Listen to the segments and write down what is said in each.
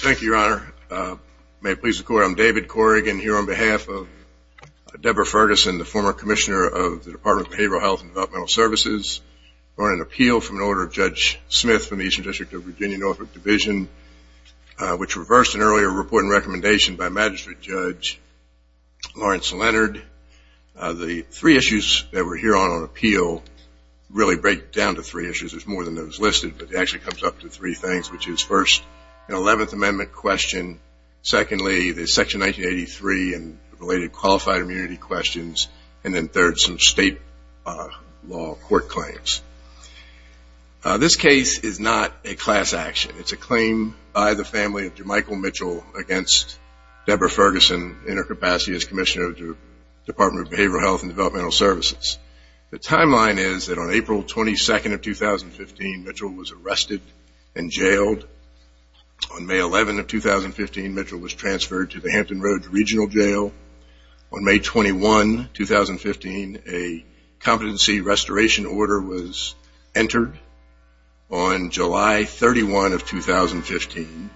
Thank you, Your Honor. May it please the Court, I'm David Corrigan here on behalf of Debra Ferguson, the former commissioner of the Department of Behavioral Health and Developmental Services. We're on an appeal from an order of Judge Smith from the Eastern District of Virginia, Norfolk Division, which reversed an earlier report and recommendation by Magistrate Judge Lawrence Leonard. The three issues that we're here on, on appeal, the first of which is that the Department of Behavioral Health and Developmental Services really break down to three issues. There's more than those listed, but it actually comes up to three things, which is first, an 11th Amendment question, secondly, the Section 1983 and related qualified immunity questions, and then third, some state law court claims. This case is not a class action. It's a claim by the family of Jermichael Mitchell against Debra Ferguson in her capacity as commissioner of the Department of Behavioral Health and Developmental Services. The timeline is that on April 22nd of 2015, Mitchell was arrested and jailed. On May 11th of 2015, Mitchell was transferred to the Hampton Roads Regional Jail. On May 21st of 2015, a competency restoration order was entered. On July 31st of 2015,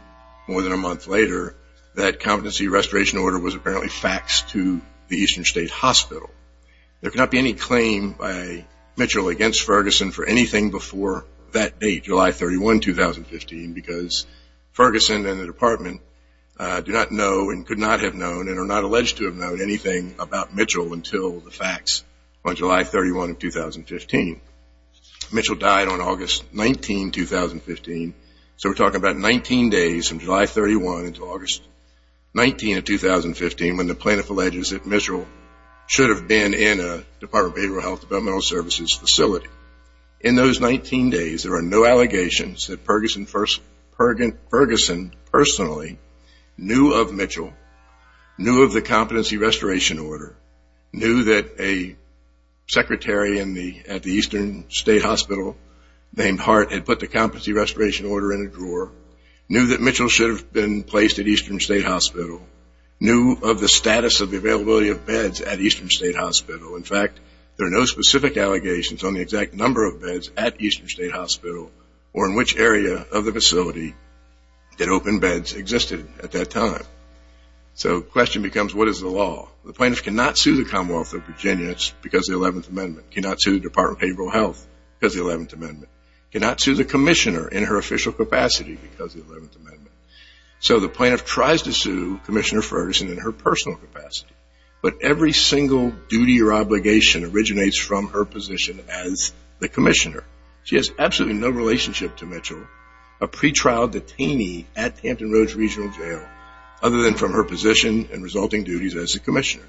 more than a month later, that competency restoration order was apparently faxed to the Eastern State Hospital. There cannot be any claim by Mitchell against Ferguson for anything before that date, July 31st, 2015, because Ferguson and the Department do not know and could not have known and are not alleged to have known anything about Mitchell until the fax on July 31st of 2015. Mitchell died on August 19th, 2015, so we're talking about 19 days from July 31st until August 19th of 2015 when the plaintiff alleges that Mitchell should have been in a Department of Behavioral Health and Developmental Services facility. In those 19 days, there are no allegations that Ferguson personally knew of Mitchell, knew of the competency restoration order, knew that a secretary at the Eastern State Hospital named Hart had put the competency restoration order in a drawer, knew that Mitchell should have been placed at Eastern State Hospital, knew of the status of the availability of beds at Eastern State Hospital. In fact, there are no specific allegations on the exact number of beds at Eastern State Hospital or in which area of the facility that open beds existed at that time. So the question becomes, what is the law? The plaintiff cannot sue the Commonwealth of Virginia because of the 11th Amendment, cannot sue the Department of Behavioral Health because of the 11th Amendment, cannot sue the commissioner in her official capacity because of the 11th Amendment. So the plaintiff tries to sue Commissioner Ferguson in her personal capacity, but every single duty or obligation originates from her position as the commissioner. She has absolutely no relationship to Mitchell, a pretrial detainee at Hampton Roads Regional Jail, other than from her position and resulting duties as the commissioner.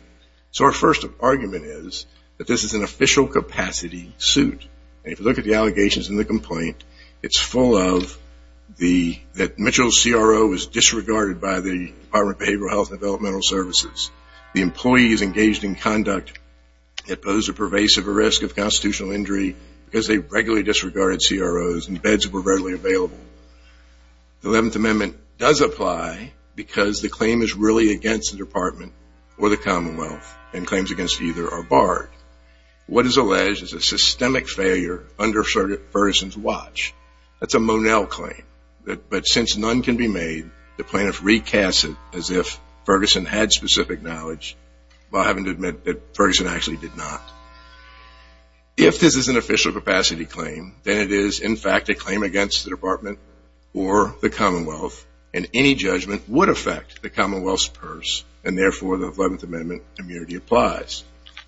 So our first argument is that this is an official capacity suit. If you look at the allegations in the complaint, it's full of that Mitchell's CRO was disregarded by the Department of Behavioral Health and Developmental Services. The employees engaged in conduct that posed a pervasive risk of constitutional injury because they regularly disregarded CROs and beds were regularly available. The 11th Amendment does apply because the claim is really against the department or the Commonwealth of Virginia. And claims against either are barred. What is alleged is a systemic failure under Ferguson's watch. That's a Monell claim. But since none can be made, the plaintiff recasts it as if Ferguson had specific knowledge while having to admit that Ferguson actually did not. If this is an official capacity claim, then it is, in fact, a claim against the department or the Commonwealth, and any judgment would affect the Commonwealth's purse, and therefore the 11th Amendment immunity applies.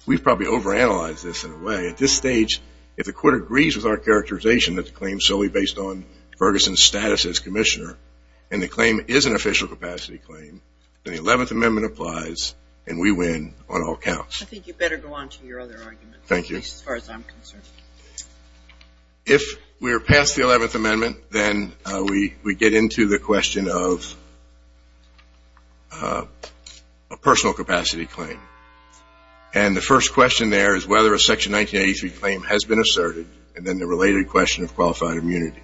We've probably overanalyzed this in a way. At this stage, if the court agrees with our characterization that the claim is solely based on Ferguson's status as commissioner and the claim is an official capacity claim, then the 11th Amendment applies and we win on all counts. I think you better go on to your other arguments, at least as far as I'm concerned. If we're past the 11th Amendment, then we get into the question of a personal capacity claim. And the first question there is whether a Section 1983 claim has been asserted, and then the related question of qualified immunity.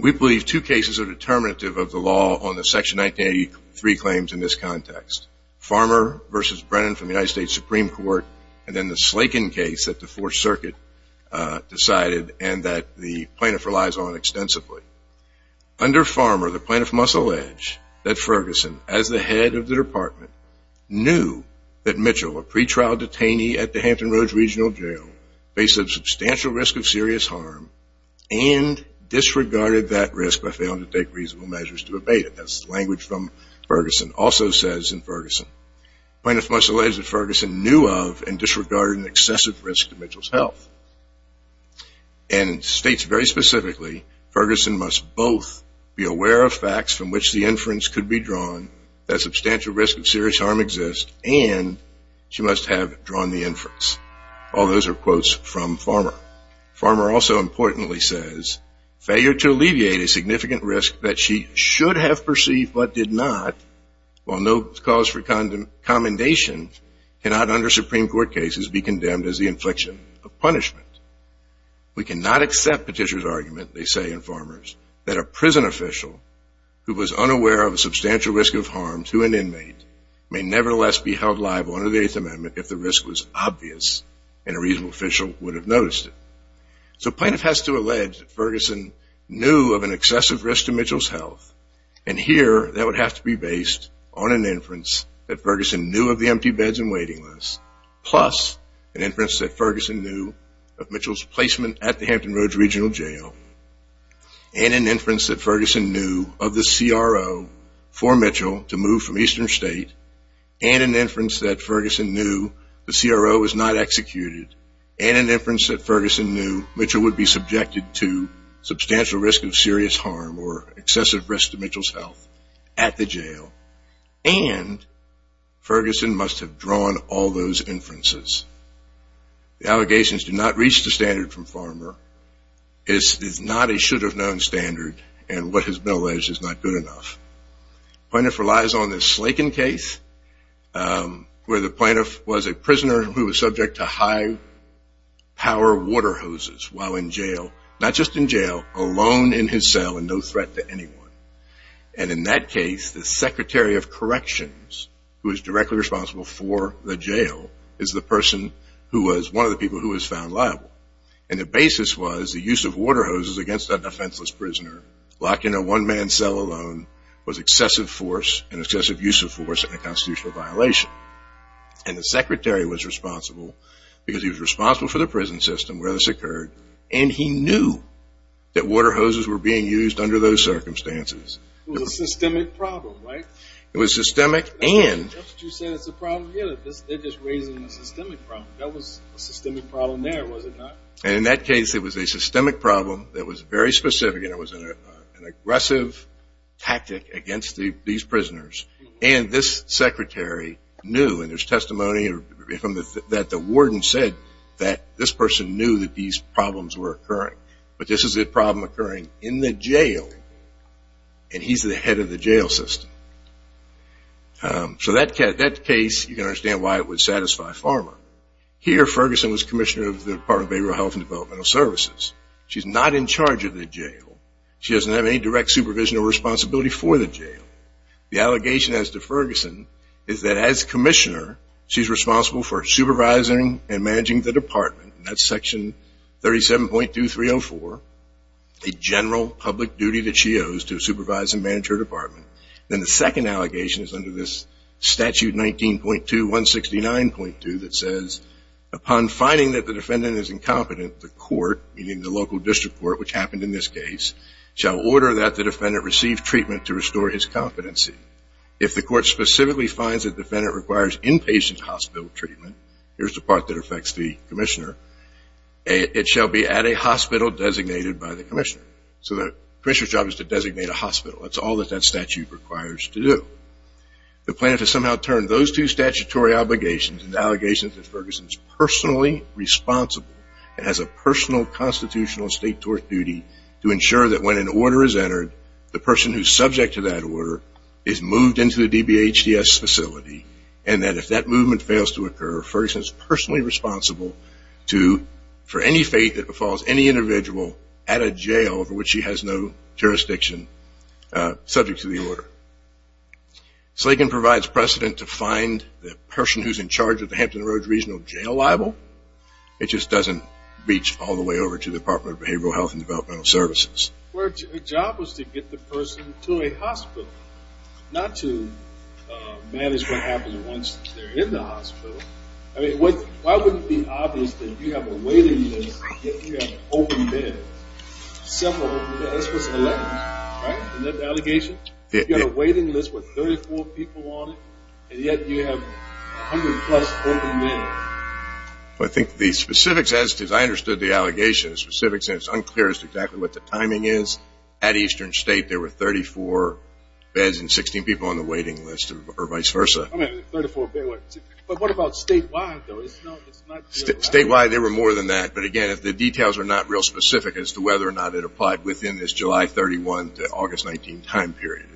We believe two cases are determinative of the law on the Section 1983 claims in this context. Farmer v. Brennan from the United States Supreme Court, and then the Slaken case that the Fourth Circuit decided and that the plaintiff relies on extensively. Under Farmer, the plaintiff must allege that Ferguson, as the head of the department, knew that Mitchell, a pretrial detainee at the Hampton Roads Regional Jail, faced a substantial risk of serious harm and disregarded that risk by failing to take reasonable measures to abate it. As language from Ferguson also says in Ferguson, plaintiff must allege that Ferguson knew of and disregarded an excessive risk to Mitchell's health. And states very specifically, Ferguson must both be aware of facts from which the inference could be drawn, that substantial risk of serious harm exists, and she must have drawn the inference. All those are quotes from Farmer. Farmer also importantly says, failure to alleviate a significant risk that she should have perceived but did not, while no cause for commendation, cannot under Supreme Court cases be condemned as the infliction of punishment. We cannot accept Petitioner's argument, they say in Farmers, that a prison official who was unaware of a substantial risk of harm to an inmate may nevertheless be held liable under the Eighth Amendment if the risk was obvious. And a reasonable official would have noticed it. So plaintiff has to allege that Ferguson knew of an excessive risk to Mitchell's health. And here, that would have to be based on an inference that Ferguson knew of the empty beds and waiting lists, plus an inference that Ferguson knew of Mitchell's placement at the Hampton Roads Regional Jail, and an inference that Ferguson knew of the CRO for Mitchell to move from Eastern State, and an inference that Ferguson knew the CRO was not executed, and an inference that Ferguson knew Mitchell would be subjected to substantial risk of serious harm or excessive risk to Mitchell's health at the jail, and Ferguson must have drawn all those inferences. The allegations do not reach the standard from Farmer. It is not a should have known standard, and what has been alleged is not good enough. Plaintiff relies on the Slaken case, where the plaintiff was a prisoner who was subject to high power water hoses while in jail, not just in jail, alone in his cell and no threat to anyone. And in that case, the Secretary of Corrections, who is directly responsible for the jail, is the person who was one of the people who was found liable. And the basis was the use of water hoses against a defenseless prisoner, locked in a one-man cell alone, was excessive force and excessive use of force and a constitutional violation. And the Secretary was responsible because he was responsible for the prison system where this occurred, and he knew that water hoses were being used under those circumstances. It was a systemic problem, right? It was systemic, and... That's what you said, it's a problem here. They're just raising a systemic problem. That was a systemic problem there, was it not? And in that case, it was a systemic problem that was very specific, and it was an aggressive tactic against these prisoners. And this secretary knew, and there's testimony that the warden said that this person knew that these problems were occurring. But this is a problem occurring in the jail, and he's the head of the jail system. So that case, you can understand why it would satisfy Farmer. Here, Ferguson was commissioner of the Department of Behavioral Health and Developmental Services. She's not in charge of the jail. She doesn't have any direct supervision or responsibility for the jail. The allegation as to Ferguson is that as commissioner, she's responsible for supervising and managing the department. That's section 37.2304, a general public duty that she owes to supervise and manage her department. Then the second allegation is under this statute 19.2169.2 that says, upon finding that the defendant is incompetent, the court, meaning the local district court, which happened in this case, shall order that the defendant receive treatment to restore his competency. If the court specifically finds that the defendant requires inpatient hospital treatment, here's the part that affects the commissioner, it shall be at a hospital designated by the commissioner. So the commissioner's job is to designate a hospital. That's all that that statute requires to do. The plaintiff has somehow turned those two statutory obligations into allegations that Ferguson is personally responsible and has a personal constitutional state tort duty to ensure that when an order is entered, the person who's subject to that order is moved into the DBHTS facility, and that if that movement fails to occur, Ferguson is personally responsible for any fate that befalls any individual at a jail over which she has no jurisdiction subject to the order. Slagan provides precedent to find the person who's in charge of the Hampton Roads Regional Jail liable. It just doesn't reach all the way over to the Department of Behavioral Health and Developmental Services. The job was to get the person to a hospital, not to manage what happens once they're in the hospital. I mean, why wouldn't it be obvious that you have a waiting list, yet you have open beds, several open beds? This was 11, right, in that allegation? You've got a waiting list with 34 people on it, and yet you have 100-plus open beds. I think the specifics, as I understood the allegations, the specifics, and it's unclear as to exactly what the timing is, at Eastern State, there were 34 beds and 16 people on the waiting list, or vice versa. I mean, 34 beds, but what about statewide, though? Statewide, there were more than that, but again, if the details are not real specific as to whether or not it applied within this July 31 to August 19 time period,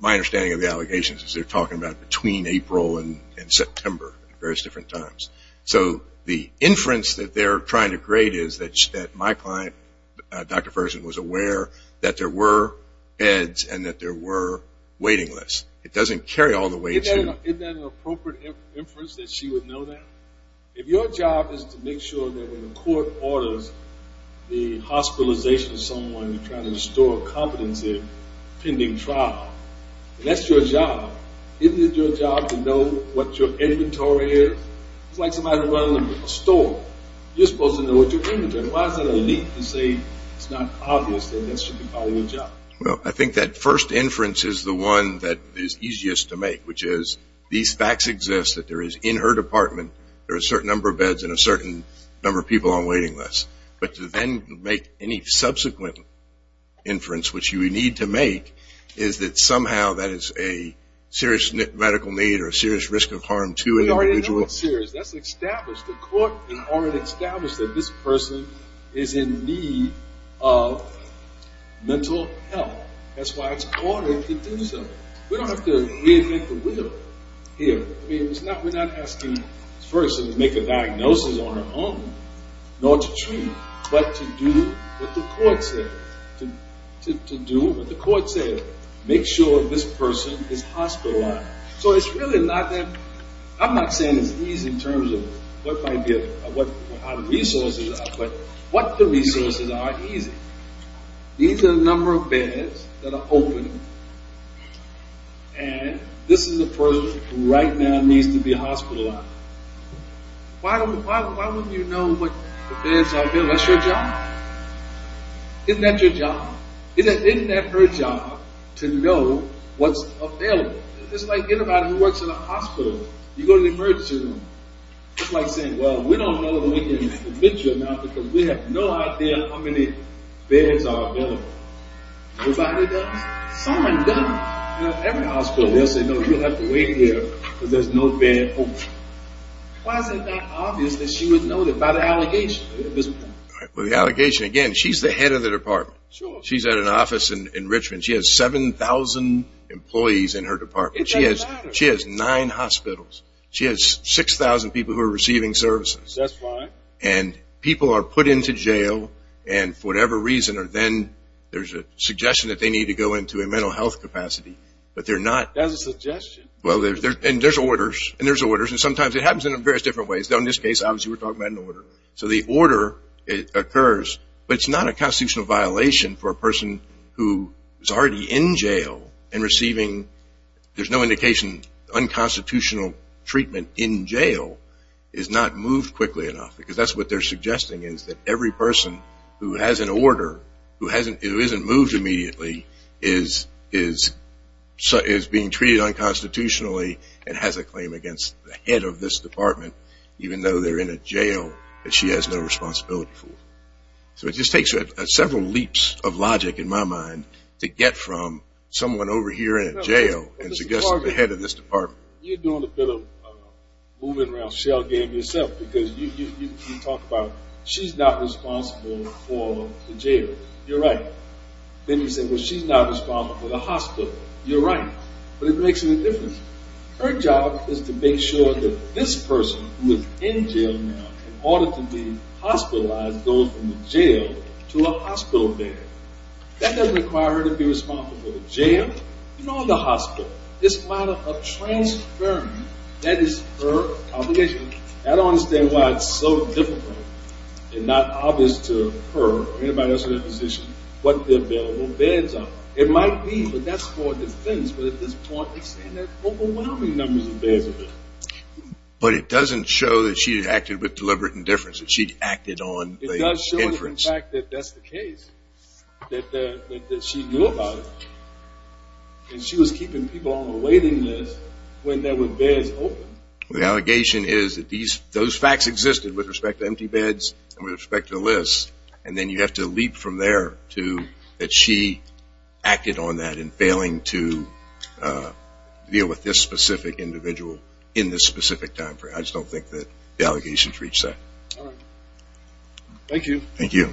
my understanding of the allegations is they're talking about between April and September at various different times. So the inference that they're trying to create is that my client, Dr. Ferguson, was aware that there were beds and that there were waiting lists. It doesn't carry all the way to – Isn't that an appropriate inference, that she would know that? If your job is to make sure that when the court orders the hospitalization of someone, you're trying to restore competency pending trial, that's your job. Isn't it your job to know what your inventory is? It's like somebody running a store. You're supposed to know what your inventory is. Why is that a leak to say it's not obvious that that should be part of your job? Well, I think that first inference is the one that is easiest to make, which is these facts exist, that there is, in her department, there are a certain number of beds and a certain number of people on waiting lists. But to then make any subsequent inference, which you need to make, is that somehow that is a serious medical need or a serious risk of harm to an individual. We already know it's serious. That's established. The court already established that this person is in need of mental health. That's why it's ordered to do so. We don't have to reinvent the wheel here. I mean, we're not asking this person to make a diagnosis on her own, nor to treat, but to do what the court said, to do what the court said. Make sure this person is hospitalized. So it's really not that, I'm not saying it's easy in terms of what the resources are, but what the resources are easy. These are the number of beds that are open, and this is the person who right now needs to be hospitalized. Why wouldn't you know what the beds are available? That's your job. Isn't that your job? Isn't that her job to know what's available? It's like anybody who works in a hospital. You go to the emergency room. It's like saying, well, we don't know if we can fit you or not because we have no idea how many beds are available. Nobody does. Someone does. Every hospital, they'll say, no, you'll have to wait here because there's no bed open. Why is it that obvious that she would know that by the allegation? By the allegation, again, she's the head of the department. She's at an office in Richmond. She has 7,000 employees in her department. It doesn't matter. She has nine hospitals. She has 6,000 people who are receiving services. That's fine. And people are put into jail, and for whatever reason or then there's a suggestion that they need to go into a mental health capacity, but they're not. That's a suggestion. Well, and there's orders, and there's orders, and sometimes it happens in various different ways. In this case, obviously, we're talking about an order. So the order occurs, but it's not a constitutional violation for a person who is already in jail and receiving, there's no indication, unconstitutional treatment in jail is not moved quickly enough because that's what they're suggesting is that every person who has an order who isn't moved immediately is being treated unconstitutionally and has a claim against the head of this department, even though they're in a jail that she has no responsibility for. So it just takes several leaps of logic in my mind to get from someone over here in a jail and suggest the head of this department. You're doing a bit of moving around shell game yourself because you talk about she's not responsible for the jail. You're right. Then you say, well, she's not responsible for the hospital. You're right, but it makes no difference. Her job is to make sure that this person who is in jail now in order to be hospitalized goes from the jail to a hospital bed. That doesn't require her to be responsible for the jail, nor the hospital. It's a matter of transferring. That is her obligation. I don't understand why it's so difficult and not obvious to her or anybody else in that position what the available beds are. It might be, but that's for defense. But at this point, they're saying there's overwhelming numbers of beds available. But it doesn't show that she acted with deliberate indifference, that she acted on the inference. It does show, in fact, that that's the case, that she knew about it. And she was keeping people on the waiting list when there were beds open. The allegation is that those facts existed with respect to empty beds and with respect to the list. And then you have to leap from there to that she acted on that in failing to deal with this specific individual in this specific time frame. I just don't think that the allegations reach that. Thank you. Thank you.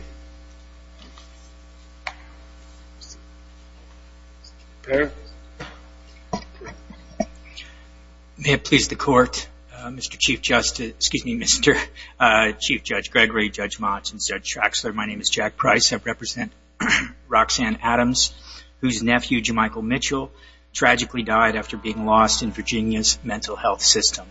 May it please the Court, Mr. Chief Justice, excuse me, Mr. Chief Judge Gregory, Judge Motz, and Judge Traxler. My name is Jack Price. I represent Roxanne Adams, whose nephew, Jemichael Mitchell, tragically died after being lost in Virginia's mental health system.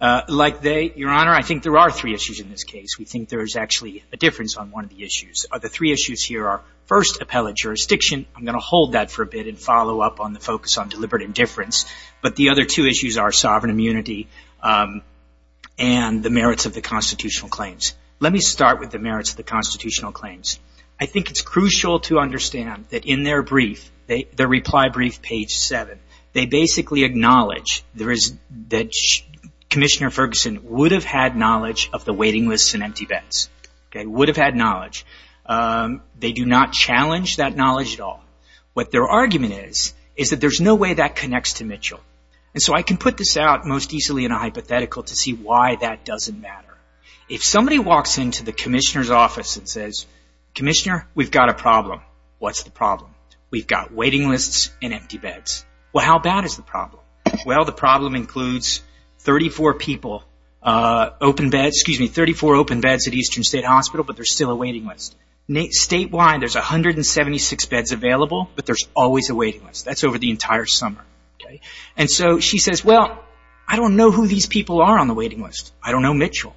Like they, Your Honor, I think there are three issues in this case. We think there is actually a difference on one of the issues. The three issues here are, first, appellate jurisdiction. I'm going to hold that for a bit and follow up on the focus on deliberate indifference. But the other two issues are sovereign immunity and the merits of the constitutional claims. Let me start with the merits of the constitutional claims. I think it's crucial to understand that in their brief, their reply brief, page 7, they basically acknowledge that Commissioner Ferguson would have had knowledge of the waiting lists and empty beds. Would have had knowledge. They do not challenge that knowledge at all. What their argument is, is that there's no way that connects to Mitchell. And so I can put this out most easily in a hypothetical to see why that doesn't matter. If somebody walks into the Commissioner's office and says, Commissioner, we've got a problem. What's the problem? We've got waiting lists and empty beds. Well, how bad is the problem? Well, the problem includes 34 open beds at Eastern State Hospital, but there's still a waiting list. Statewide, there's 176 beds available, but there's always a waiting list. That's over the entire summer. And so she says, well, I don't know who these people are on the waiting list. I don't know Mitchell.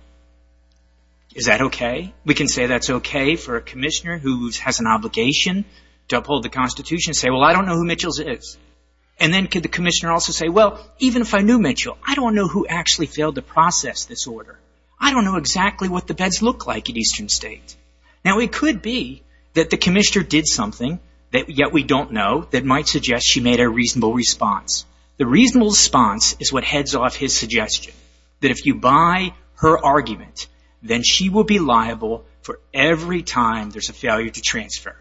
Is that okay? We can say that's okay for a Commissioner who has an obligation to uphold the Constitution, say, well, I don't know who Mitchell is. And then could the Commissioner also say, well, even if I knew Mitchell, I don't know who actually failed to process this order. I don't know exactly what the beds look like at Eastern State. Now, it could be that the Commissioner did something that yet we don't know that might suggest she made a reasonable response. The reasonable response is what heads off his suggestion, that if you buy her argument, then she will be liable for every time there's a failure to transfer.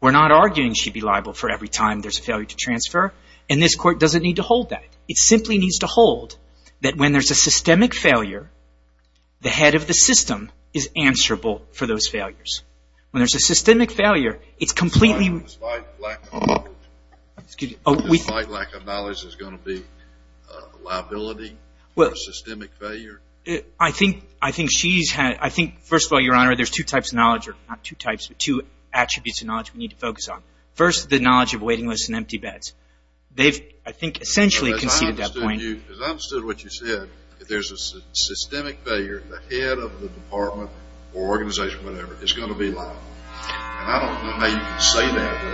We're not arguing she'd be liable for every time there's a failure to transfer, and this Court doesn't need to hold that. It simply needs to hold that when there's a systemic failure, the head of the system is answerable for those failures. When there's a systemic failure, it's completely – Is my lack of knowledge going to be liability for a systemic failure? I think she's – I think, first of all, Your Honor, there's two types of knowledge – not two types, but two attributes of knowledge we need to focus on. First, the knowledge of waiting lists and empty beds. They've, I think, essentially conceded that point. As I understood what you said, if there's a systemic failure, the head of the department or organization or whatever is going to be liable. And I don't know how you can say that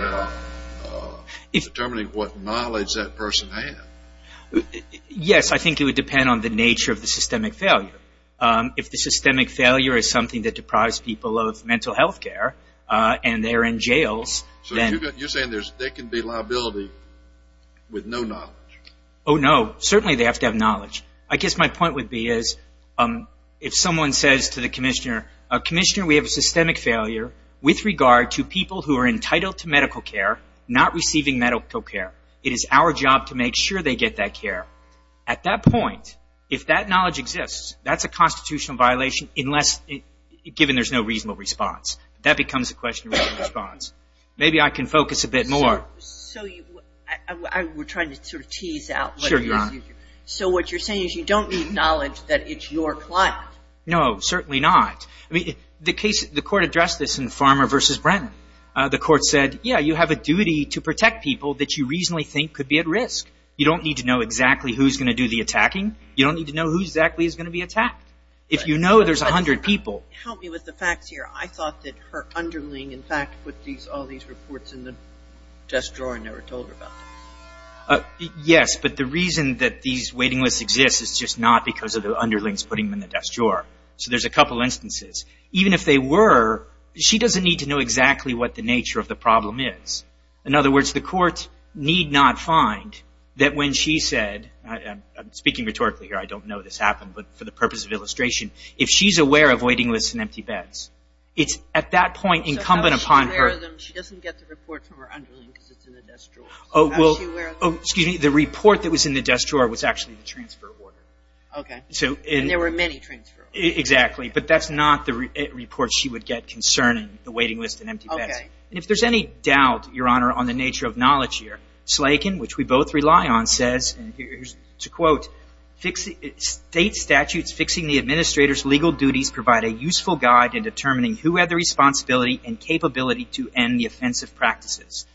without determining what knowledge that person had. Yes, I think it would depend on the nature of the systemic failure. If the systemic failure is something that deprives people of mental health care and they're in jails, then – So you're saying there can be liability with no knowledge? Oh, no. Certainly they have to have knowledge. I guess my point would be is if someone says to the commissioner, Commissioner, we have a systemic failure with regard to people who are entitled to medical care not receiving medical care. It is our job to make sure they get that care. At that point, if that knowledge exists, that's a constitutional violation unless – given there's no reasonable response. That becomes a question of reasonable response. Maybe I can focus a bit more. So you – we're trying to sort of tease out what – Sure, Your Honor. So what you're saying is you don't need knowledge that it's your client? No, certainly not. The case – the court addressed this in Farmer v. Brennan. The court said, yeah, you have a duty to protect people that you reasonably think could be at risk. You don't need to know exactly who's going to do the attacking. You don't need to know who exactly is going to be attacked. If you know there's 100 people – Help me with the facts here. I thought that her underling, in fact, put all these reports in the desk drawer and never told her about it. Yes, but the reason that these waiting lists exist is just not because of the underlings putting them in the desk drawer. So there's a couple instances. Even if they were, she doesn't need to know exactly what the nature of the problem is. In other words, the court need not find that when she said – I'm speaking rhetorically here. I don't know this happened, but for the purpose of illustration. If she's aware of waiting lists in empty beds, it's at that point incumbent upon her – So if she's aware of them, she doesn't get the report from her underling because it's in the desk drawer. Excuse me. The report that was in the desk drawer was actually the transfer order. Okay. And there were many transfer orders. Exactly, but that's not the report she would get concerning the waiting list in empty beds. Okay. And if there's any doubt, Your Honor, on the nature of knowledge here, Slakin, which we both rely on, says, and here's a quote, State statutes fixing the administrator's legal duties provide a useful guide in determining who had the responsibility and capability to end the offensive practices.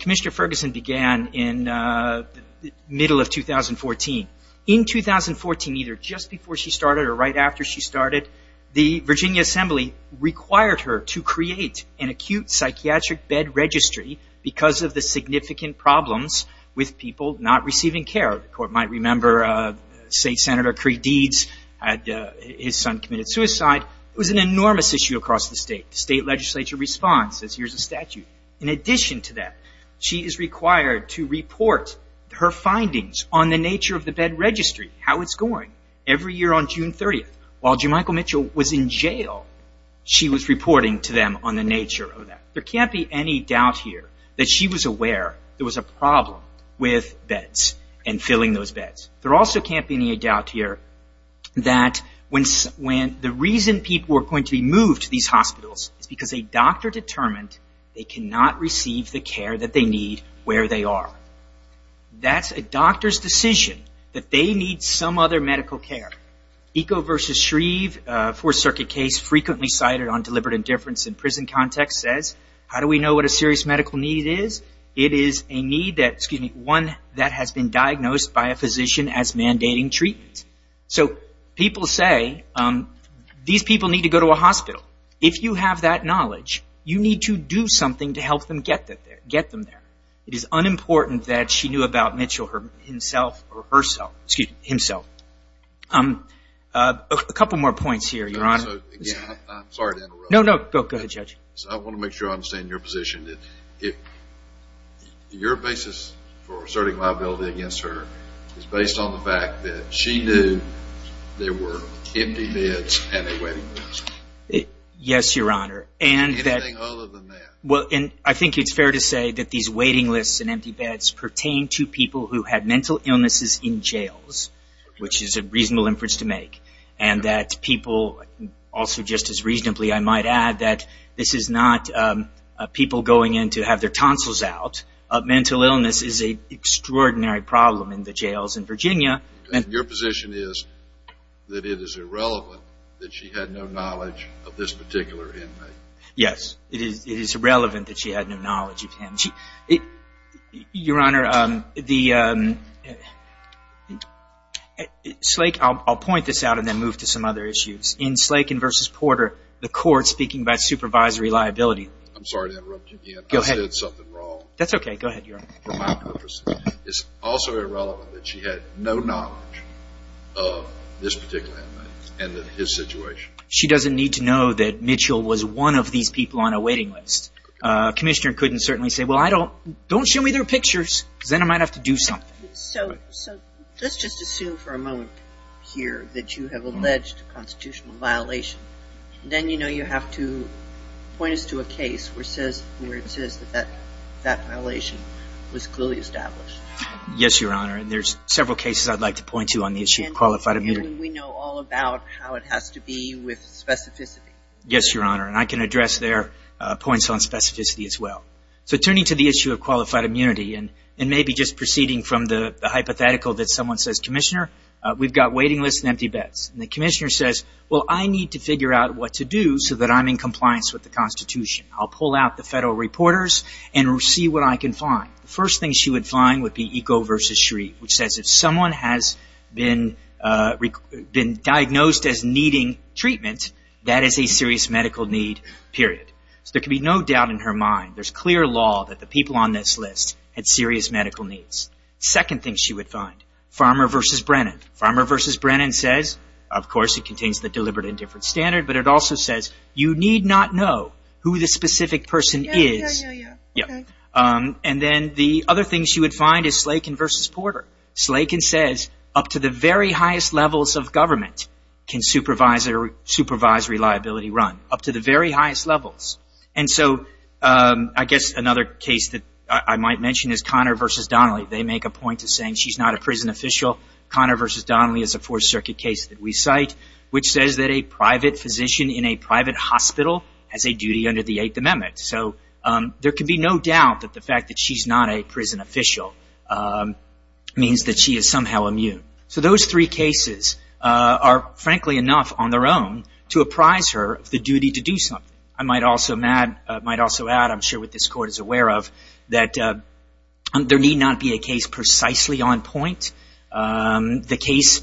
Commissioner Ferguson began in the middle of 2014. In 2014, either just before she started or right after she started, the Virginia Assembly required her to create an acute psychiatric bed registry because of the significant problems with people not receiving care. The court might remember, say, Senator Cree Deeds. His son committed suicide. It was an enormous issue across the state. The state legislature responds. Here's a statute. In addition to that, she is required to report her findings on the nature of the bed registry, how it's going, every year on June 30th. While Jemichael Mitchell was in jail, she was reporting to them on the nature of that. There can't be any doubt here that she was aware there was a problem with beds and filling those beds. There also can't be any doubt here that when the reason people were going to be moved to these hospitals is because a doctor determined they cannot receive the care that they need where they are. That's a doctor's decision that they need some other medical care. Eco versus Shreve, a Fourth Circuit case frequently cited on deliberate indifference in prison context, says how do we know what a serious medical need is? It is a need that has been diagnosed by a physician as mandating treatment. So people say these people need to go to a hospital. If you have that knowledge, you need to do something to help them get them there. It is unimportant that she knew about Mitchell himself. A couple more points here, Your Honor. I'm sorry to interrupt. No, no. Go ahead, Judge. I want to make sure I understand your position. Your basis for asserting liability against her is based on the fact that she knew there were empty beds and a waiting list. Yes, Your Honor. Anything other than that. I think it's fair to say that these waiting lists and empty beds pertain to people who had mental illnesses in jails, which is a reasonable inference to make. Also, just as reasonably, I might add that this is not people going in to have their tonsils out. Mental illness is an extraordinary problem in the jails in Virginia. Your position is that it is irrelevant that she had no knowledge of this particular inmate. Yes, it is irrelevant that she had no knowledge of him. Your Honor, I'll point this out and then move to some other issues. In Slaken v. Porter, the court speaking about supervisory liability. I'm sorry to interrupt you again. I said something wrong. That's okay. Go ahead, Your Honor. For my purposes. It's also irrelevant that she had no knowledge of this particular inmate and his situation. She doesn't need to know that Mitchell was one of these people on a waiting list. A commissioner couldn't certainly say, well, don't show me their pictures because then I might have to do something. So let's just assume for a moment here that you have alleged a constitutional violation. Then you know you have to point us to a case where it says that that violation was clearly established. Yes, Your Honor. There's several cases I'd like to point to on the issue of qualified immunity. We know all about how it has to be with specificity. Yes, Your Honor. And I can address their points on specificity as well. So turning to the issue of qualified immunity and maybe just proceeding from the hypothetical that someone says, Commissioner, we've got waiting lists and empty beds. And the commissioner says, well, I need to figure out what to do so that I'm in compliance with the Constitution. I'll pull out the federal reporters and see what I can find. The first thing she would find would be Eco v. Shreve, which says if someone has been diagnosed as needing treatment, that is a serious medical need, period. So there can be no doubt in her mind. There's clear law that the people on this list had serious medical needs. Second thing she would find, Farmer v. Brennan. Farmer v. Brennan says, of course, it contains the deliberate indifference standard, but it also says you need not know who the specific person is. Yes, Your Honor. And then the other thing she would find is Slakin v. Porter. Slakin says up to the very highest levels of government can supervise reliability run, up to the very highest levels. And so I guess another case that I might mention is Connor v. Donnelly. They make a point of saying she's not a prison official. Connor v. Donnelly is a Fourth Circuit case that we cite, which says that a private physician in a private hospital has a duty under the Eighth Amendment. So there can be no doubt that the fact that she's not a prison official means that she is somehow immune. So those three cases are, frankly, enough on their own to apprise her of the duty to do something. I might also add, I'm sure what this Court is aware of, that there need not be a case precisely on point. The case,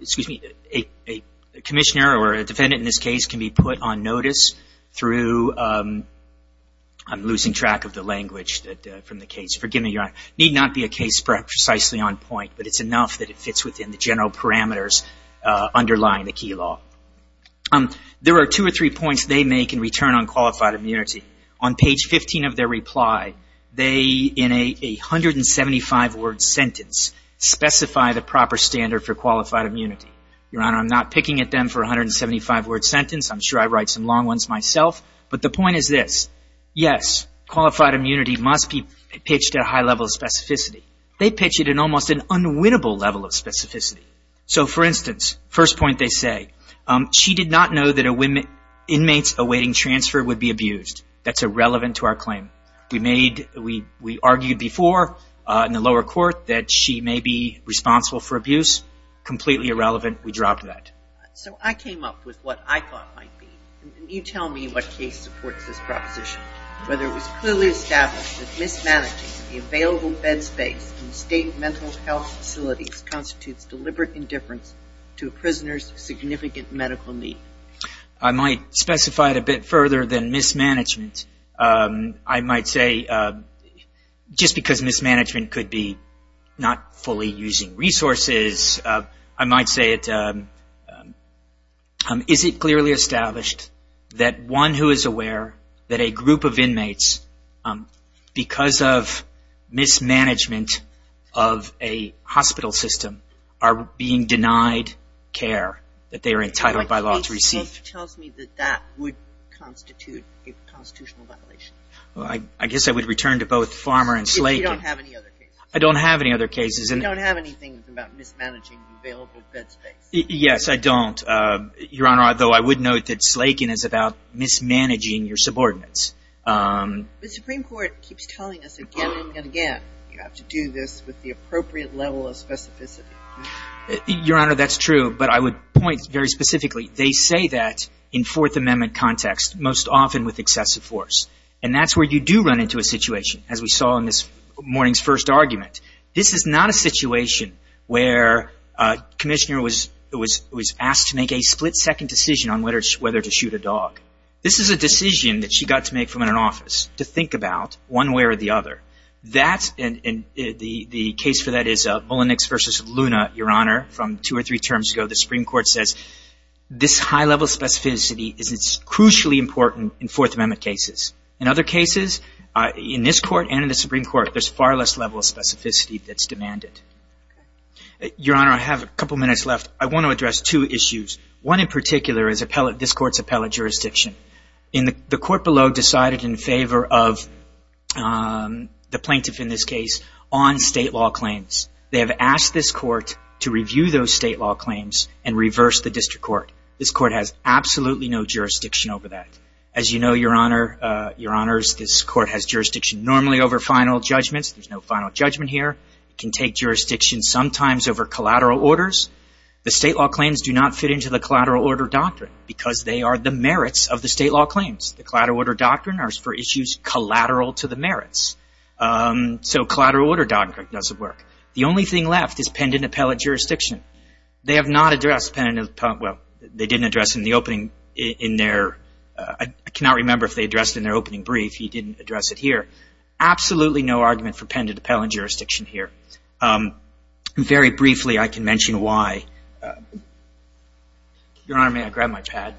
excuse me, a commissioner or a defendant in this case can be put on notice through, I'm losing track of the language from the case. Forgive me, Your Honor. Need not be a case precisely on point, but it's enough that it fits within the general parameters underlying the key law. There are two or three points they make in return on qualified immunity. On page 15 of their reply, they, in a 175-word sentence, specify the proper standard for qualified immunity. Your Honor, I'm not picking at them for a 175-word sentence. I'm sure I write some long ones myself. But the point is this. Yes, qualified immunity must be pitched at a high level of specificity. They pitch it in almost an unwinnable level of specificity. So, for instance, first point they say. She did not know that inmates awaiting transfer would be abused. That's irrelevant to our claim. We argued before in the lower court that she may be responsible for abuse. Completely irrelevant. We dropped that. So I came up with what I thought might be. You tell me what case supports this proposition. Whether it was clearly established that mismanaging the available bed space in state mental health facilities constitutes deliberate indifference to a prisoner's significant medical need. I might specify it a bit further than mismanagement. I might say just because mismanagement could be not fully using resources, I might say is it clearly established that one who is aware that a group of inmates, because of mismanagement of a hospital system, are being denied care that they are entitled by law to receive. That tells me that that would constitute a constitutional violation. I guess I would return to both Farmer and Slaken. If you don't have any other cases. I don't have any other cases. If you don't have anything about mismanaging the available bed space. Yes, I don't. Your Honor, though I would note that Slaken is about mismanaging your subordinates. The Supreme Court keeps telling us again and again. You have to do this with the appropriate level of specificity. Your Honor, that's true. But I would point very specifically. They say that in Fourth Amendment context, most often with excessive force. And that's where you do run into a situation, as we saw in this morning's first argument. This is not a situation where a commissioner was asked to make a split-second decision on whether to shoot a dog. This is a decision that she got to make from her office to think about one way or the other. The case for that is Mullenix v. Luna, Your Honor, from two or three terms ago. The Supreme Court says this high level of specificity is crucially important in Fourth Amendment cases. In other cases, in this Court and in the Supreme Court, there's far less level of specificity that's demanded. Your Honor, I have a couple minutes left. I want to address two issues. One in particular is this Court's appellate jurisdiction. The court below decided in favor of the plaintiff in this case on state law claims. They have asked this Court to review those state law claims and reverse the district court. This Court has absolutely no jurisdiction over that. As you know, Your Honor, Your Honors, this Court has jurisdiction normally over final judgments. There's no final judgment here. It can take jurisdiction sometimes over collateral orders. The state law claims do not fit into the collateral order doctrine because they are the merits of the state law claims. The collateral order doctrine are for issues collateral to the merits. So collateral order doctrine doesn't work. The only thing left is pendant appellate jurisdiction. They have not addressed pendant appellate – well, they didn't address it in the opening in their – I cannot remember if they addressed it in their opening brief. He didn't address it here. Absolutely no argument for pendant appellate jurisdiction here. Very briefly, I can mention why. Your Honor, may I grab my pad?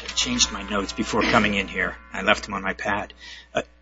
I changed my notes before coming in here. I left them on my pad.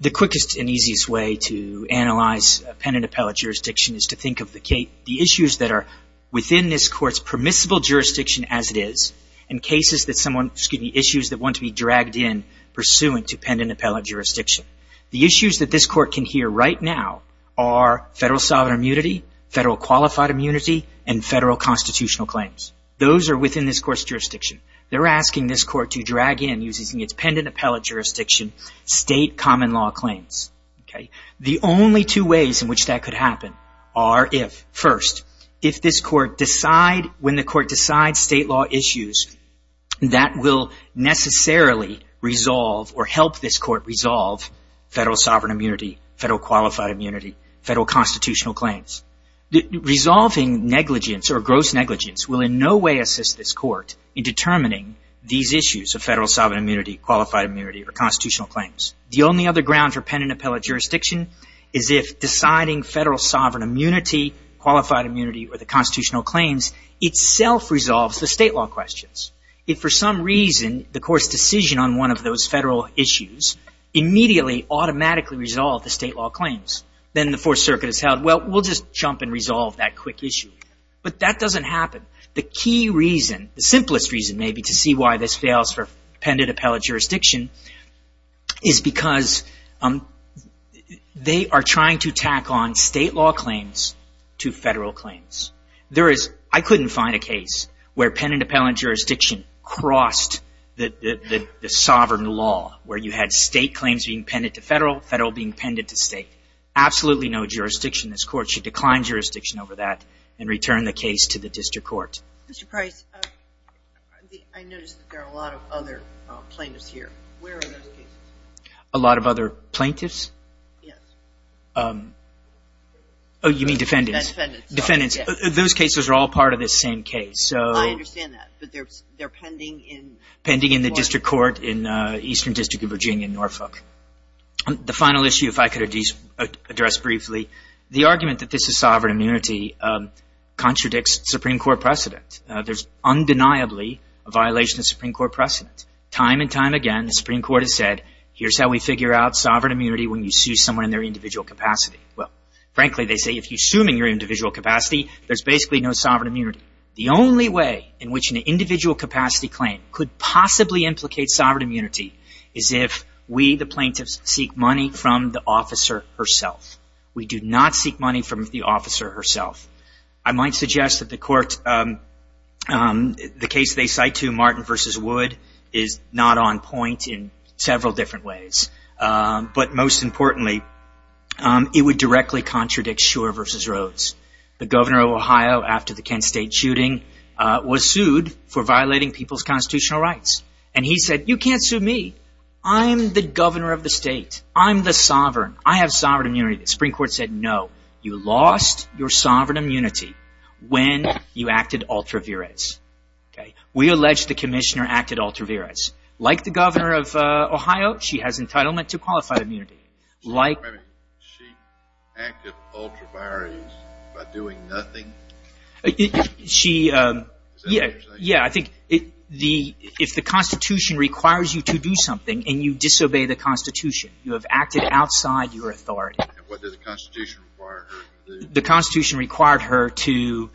The quickest and easiest way to analyze pendant appellate jurisdiction is to think of the issues that are within this Court's permissible jurisdiction as it is and cases that someone – excuse me, issues that want to be dragged in pursuant to pendant appellate jurisdiction. The issues that this Court can hear right now are federal sovereign immunity, federal qualified immunity, and federal constitutional claims. They're asking this Court to drag in, using its pendant appellate jurisdiction, state common law claims. Okay? The only two ways in which that could happen are if, first, if this Court decide – when the Court decides state law issues, that will necessarily resolve or help this Court resolve federal sovereign immunity, federal qualified immunity, federal constitutional claims. Resolving negligence or gross negligence will in no way assist this Court in determining these issues of federal sovereign immunity, qualified immunity, or constitutional claims. The only other ground for pendant appellate jurisdiction is if deciding federal sovereign immunity, qualified immunity, or the constitutional claims itself resolves the state law questions. If for some reason the Court's decision on one of those federal issues immediately automatically resolved the state law claims, then the Fourth Circuit has held, well, we'll just jump and resolve that quick issue. But that doesn't happen. The key reason, the simplest reason maybe, to see why this fails for pendant appellate jurisdiction is because they are trying to tack on state law claims to federal claims. There is – I couldn't find a case where pendant appellate jurisdiction crossed the sovereign law, where you had state claims being pendent to federal, federal being pendent to state. Absolutely no jurisdiction in this Court. Should decline jurisdiction over that and return the case to the district court. Mr. Price, I noticed that there are a lot of other plaintiffs here. Where are those cases? A lot of other plaintiffs? Yes. Oh, you mean defendants. Defendants. Defendants. Those cases are all part of this same case. I understand that, but they're pending in – The final issue, if I could address briefly, the argument that this is sovereign immunity contradicts Supreme Court precedent. There's undeniably a violation of Supreme Court precedent. Time and time again, the Supreme Court has said, here's how we figure out sovereign immunity when you sue someone in their individual capacity. Well, frankly, they say if you're suing in your individual capacity, there's basically no sovereign immunity. The only way in which an individual capacity claim could possibly implicate sovereign immunity is if we, the plaintiffs, seek money from the officer herself. We do not seek money from the officer herself. I might suggest that the court – the case they cite to, Martin v. Wood, is not on point in several different ways. But most importantly, it would directly contradict Shurer v. Rhodes. The governor of Ohio, after the Kent State shooting, was sued for violating people's constitutional rights. And he said, you can't sue me. I'm the governor of the state. I'm the sovereign. I have sovereign immunity. The Supreme Court said, no, you lost your sovereign immunity when you acted ultra viris. We allege the commissioner acted ultra viris. Like the governor of Ohio, she has entitlement to qualified immunity. She acted ultra viris by doing nothing? She – Is that what you're saying? Yeah, I think if the Constitution requires you to do something and you disobey the Constitution, you have acted outside your authority. And what did the Constitution require her to do?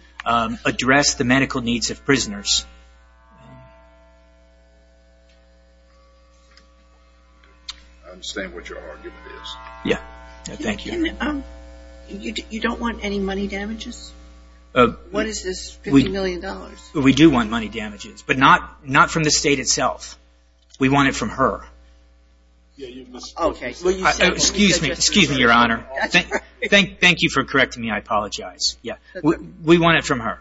I understand what your argument is. Yeah. Thank you. You don't want any money damages? What is this $50 million? We do want money damages, but not from the state itself. We want it from her. Okay. Excuse me, Your Honor. Thank you for correcting me. I apologize. Yeah. We want it from her.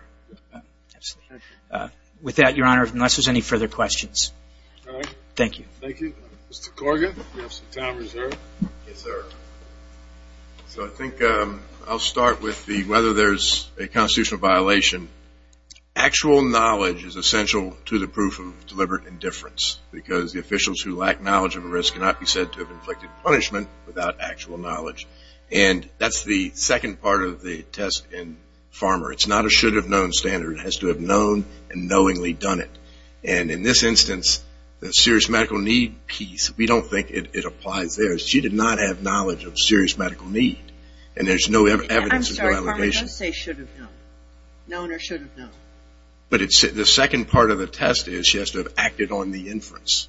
With that, Your Honor, unless there's any further questions. All right. Thank you. Thank you. Mr. Corrigan, you have some time reserved. Yes, sir. So I think I'll start with the whether there's a constitutional violation. Actual knowledge is essential to the proof of deliberate indifference, because the officials who lack knowledge of a risk cannot be said to have inflicted punishment without actual knowledge. And that's the second part of the test in Farmer. It's not a should-have-known standard. It has to have known and knowingly done it. And in this instance, the serious medical need piece, we don't think it applies there. She did not have knowledge of serious medical need, and there's no evidence of validation. I'm sorry, Farmer, don't say should have known. Known or should have known. But the second part of the test is she has to have acted on the inference.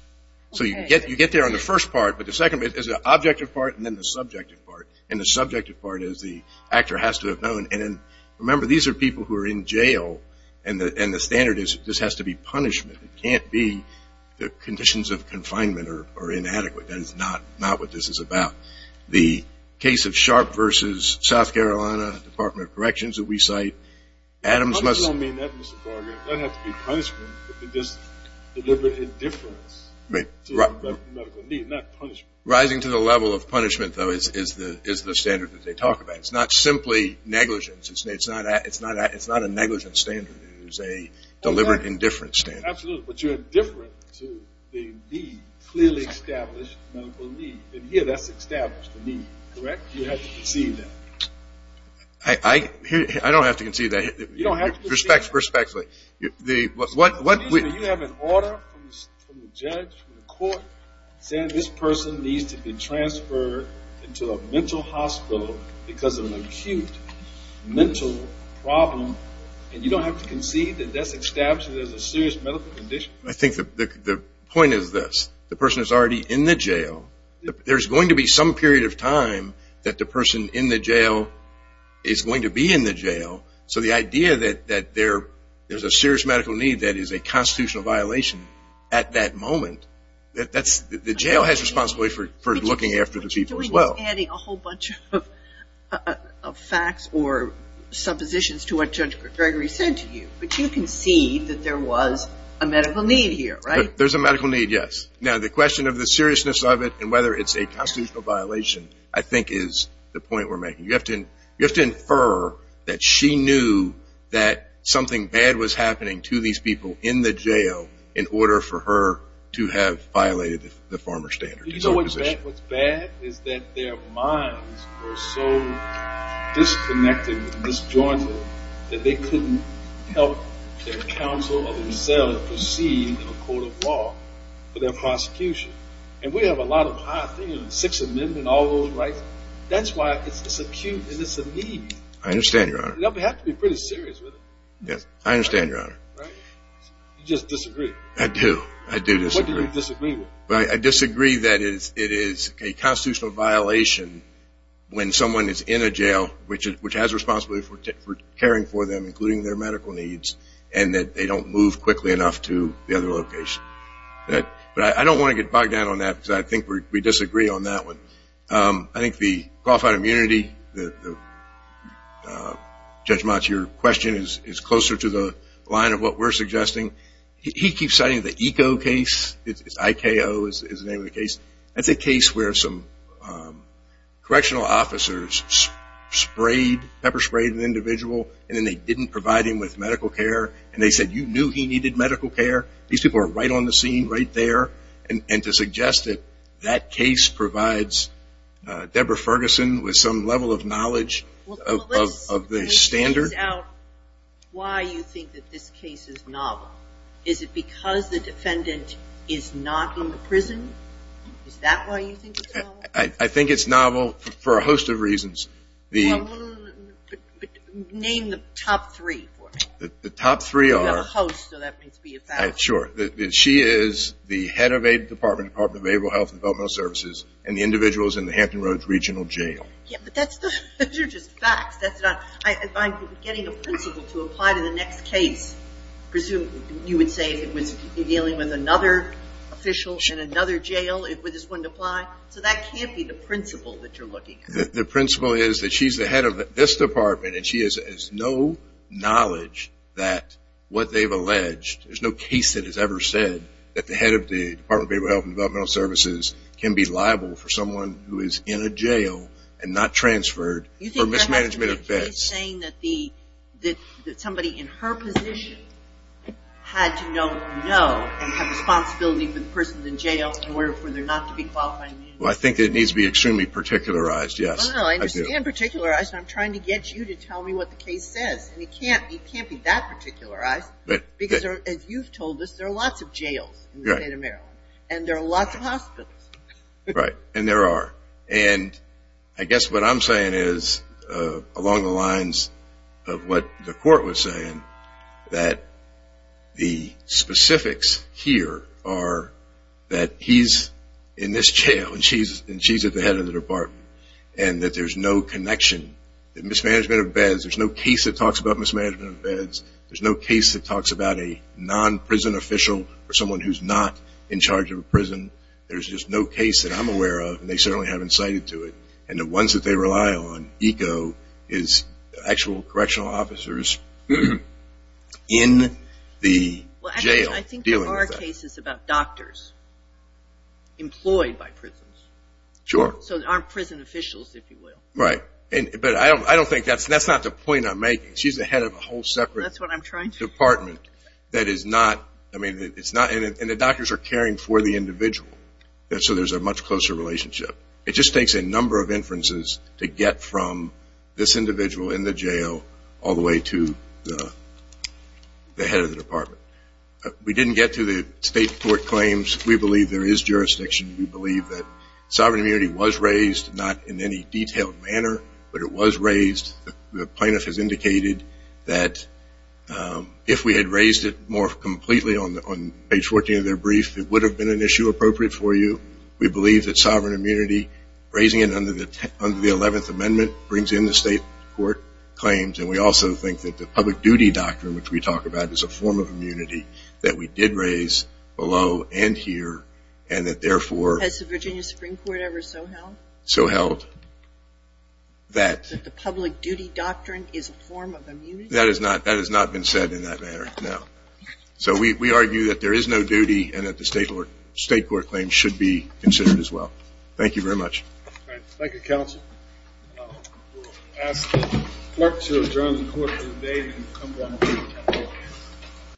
So you get there on the first part, but the second is the objective part and then the subjective part. And the subjective part is the actor has to have known. And remember, these are people who are in jail, and the standard is this has to be punishment. It can't be the conditions of confinement are inadequate. That is not what this is about. The case of Sharp versus South Carolina, Department of Corrections that we cite, Adams must. I don't mean that, Mr. Farger. That has to be punishment, but it is deliberate indifference to medical need, not punishment. Rising to the level of punishment, though, is the standard that they talk about. It's not simply negligence. It's not a negligence standard. It is a deliberate indifference standard. Absolutely, but you're indifferent to the need, clearly established medical need. And here that's established, the need, correct? You have to conceive that. I don't have to conceive that. You don't have to conceive that. Respectfully. You have an order from the judge, from the court, saying this person needs to be transferred into a mental hospital because of an acute mental problem, and you don't have to conceive that that's established as a serious medical condition. I think the point is this. The person is already in the jail. There's going to be some period of time that the person in the jail is going to be in the jail. So the idea that there's a serious medical need that is a constitutional violation at that moment, the jail has responsibility for looking after the people as well. What you're doing is adding a whole bunch of facts or suppositions to what Judge Gregory said to you. But you conceived that there was a medical need here, right? There's a medical need, yes. Now, the question of the seriousness of it and whether it's a constitutional violation, I think, is the point we're making. You have to infer that she knew that something bad was happening to these people in the jail in order for her to have violated the former standard. You know what's bad? What's bad is that their minds were so disconnected, disjointed, that they couldn't help their counsel or themselves proceed in a court of law for their prosecution. And we have a lot of high things, Sixth Amendment, all those rights. That's why it's acute and it's a need. I understand, Your Honor. You have to be pretty serious with it. I understand, Your Honor. You just disagree. I do. I do disagree. What do you disagree with? I disagree that it is a constitutional violation when someone is in a jail, which has responsibility for caring for them, including their medical needs, and that they don't move quickly enough to the other location. But I don't want to get bogged down on that because I think we disagree on that one. I think the qualified immunity, Judge Motz, your question is closer to the line of what we're suggesting. He keeps saying the IKO case, I-K-O is the name of the case. That's a case where some correctional officers pepper sprayed an individual and then they didn't provide him with medical care, and they said, You knew he needed medical care? These people are right on the scene, right there. And to suggest that that case provides Deborah Ferguson with some level of knowledge of the standard. Well, let's phase out why you think that this case is novel. Is it because the defendant is not in the prison? Is that why you think it's novel? I think it's novel for a host of reasons. Well, name the top three for me. The top three are. You have a host, so that means to be a factor. Sure. She is the head of a department, Department of Behavioral Health and Developmental Services, and the individual is in the Hampton Roads Regional Jail. But those are just facts. I'm getting a principle to apply to the next case. Presumably you would say if it was dealing with another official in another jail, it just wouldn't apply. So that can't be the principle that you're looking at. The principle is that she's the head of this department, and she has no knowledge that what they've alleged, there's no case that has ever said that the head of the Department of Behavioral Health and Developmental Services can be liable for someone who is in a jail and not transferred for mismanagement of bets. Are you saying that somebody in her position had to know and have responsibility for the person in jail in order for there not to be qualified immunity? Well, I think it needs to be extremely particularized, yes. Well, I understand particularized. I'm trying to get you to tell me what the case says, and it can't be that particularized. Because as you've told us, there are lots of jails in the state of Maryland, and there are lots of hospitals. Right, and there are. And I guess what I'm saying is, along the lines of what the court was saying, that the specifics here are that he's in this jail, and she's at the head of the department. And that there's no connection. The mismanagement of beds, there's no case that talks about mismanagement of beds. There's no case that talks about a non-prison official or someone who's not in charge of a prison. There's just no case that I'm aware of, and they certainly haven't cited to it. And the ones that they rely on, ECO, is actual correctional officers in the jail. Well, actually, I think there are cases about doctors employed by prisons. Sure. So there aren't prison officials, if you will. Right. But I don't think that's the point I'm making. She's the head of a whole separate department. That's what I'm trying to say. And the doctors are caring for the individual, so there's a much closer relationship. It just takes a number of inferences to get from this individual in the jail all the way to the head of the department. We didn't get to the state court claims. We believe there is jurisdiction. We believe that sovereign immunity was raised, not in any detailed manner, but it was raised. The plaintiff has indicated that if we had raised it more completely on page 14 of their brief, it would have been an issue appropriate for you. We believe that sovereign immunity, raising it under the 11th Amendment, brings in the state court claims, and we also think that the public duty doctrine, which we talk about, is a form of immunity that we did raise below and here, and that therefore... Has the Virginia Supreme Court ever so held? So held. That the public duty doctrine is a form of immunity? That has not been said in that manner, no. So we argue that there is no duty and that the state court claims should be considered as well. Thank you very much. All right. Thank you, counsel. We'll ask the clerk to adjourn the court for the day and come down to the table.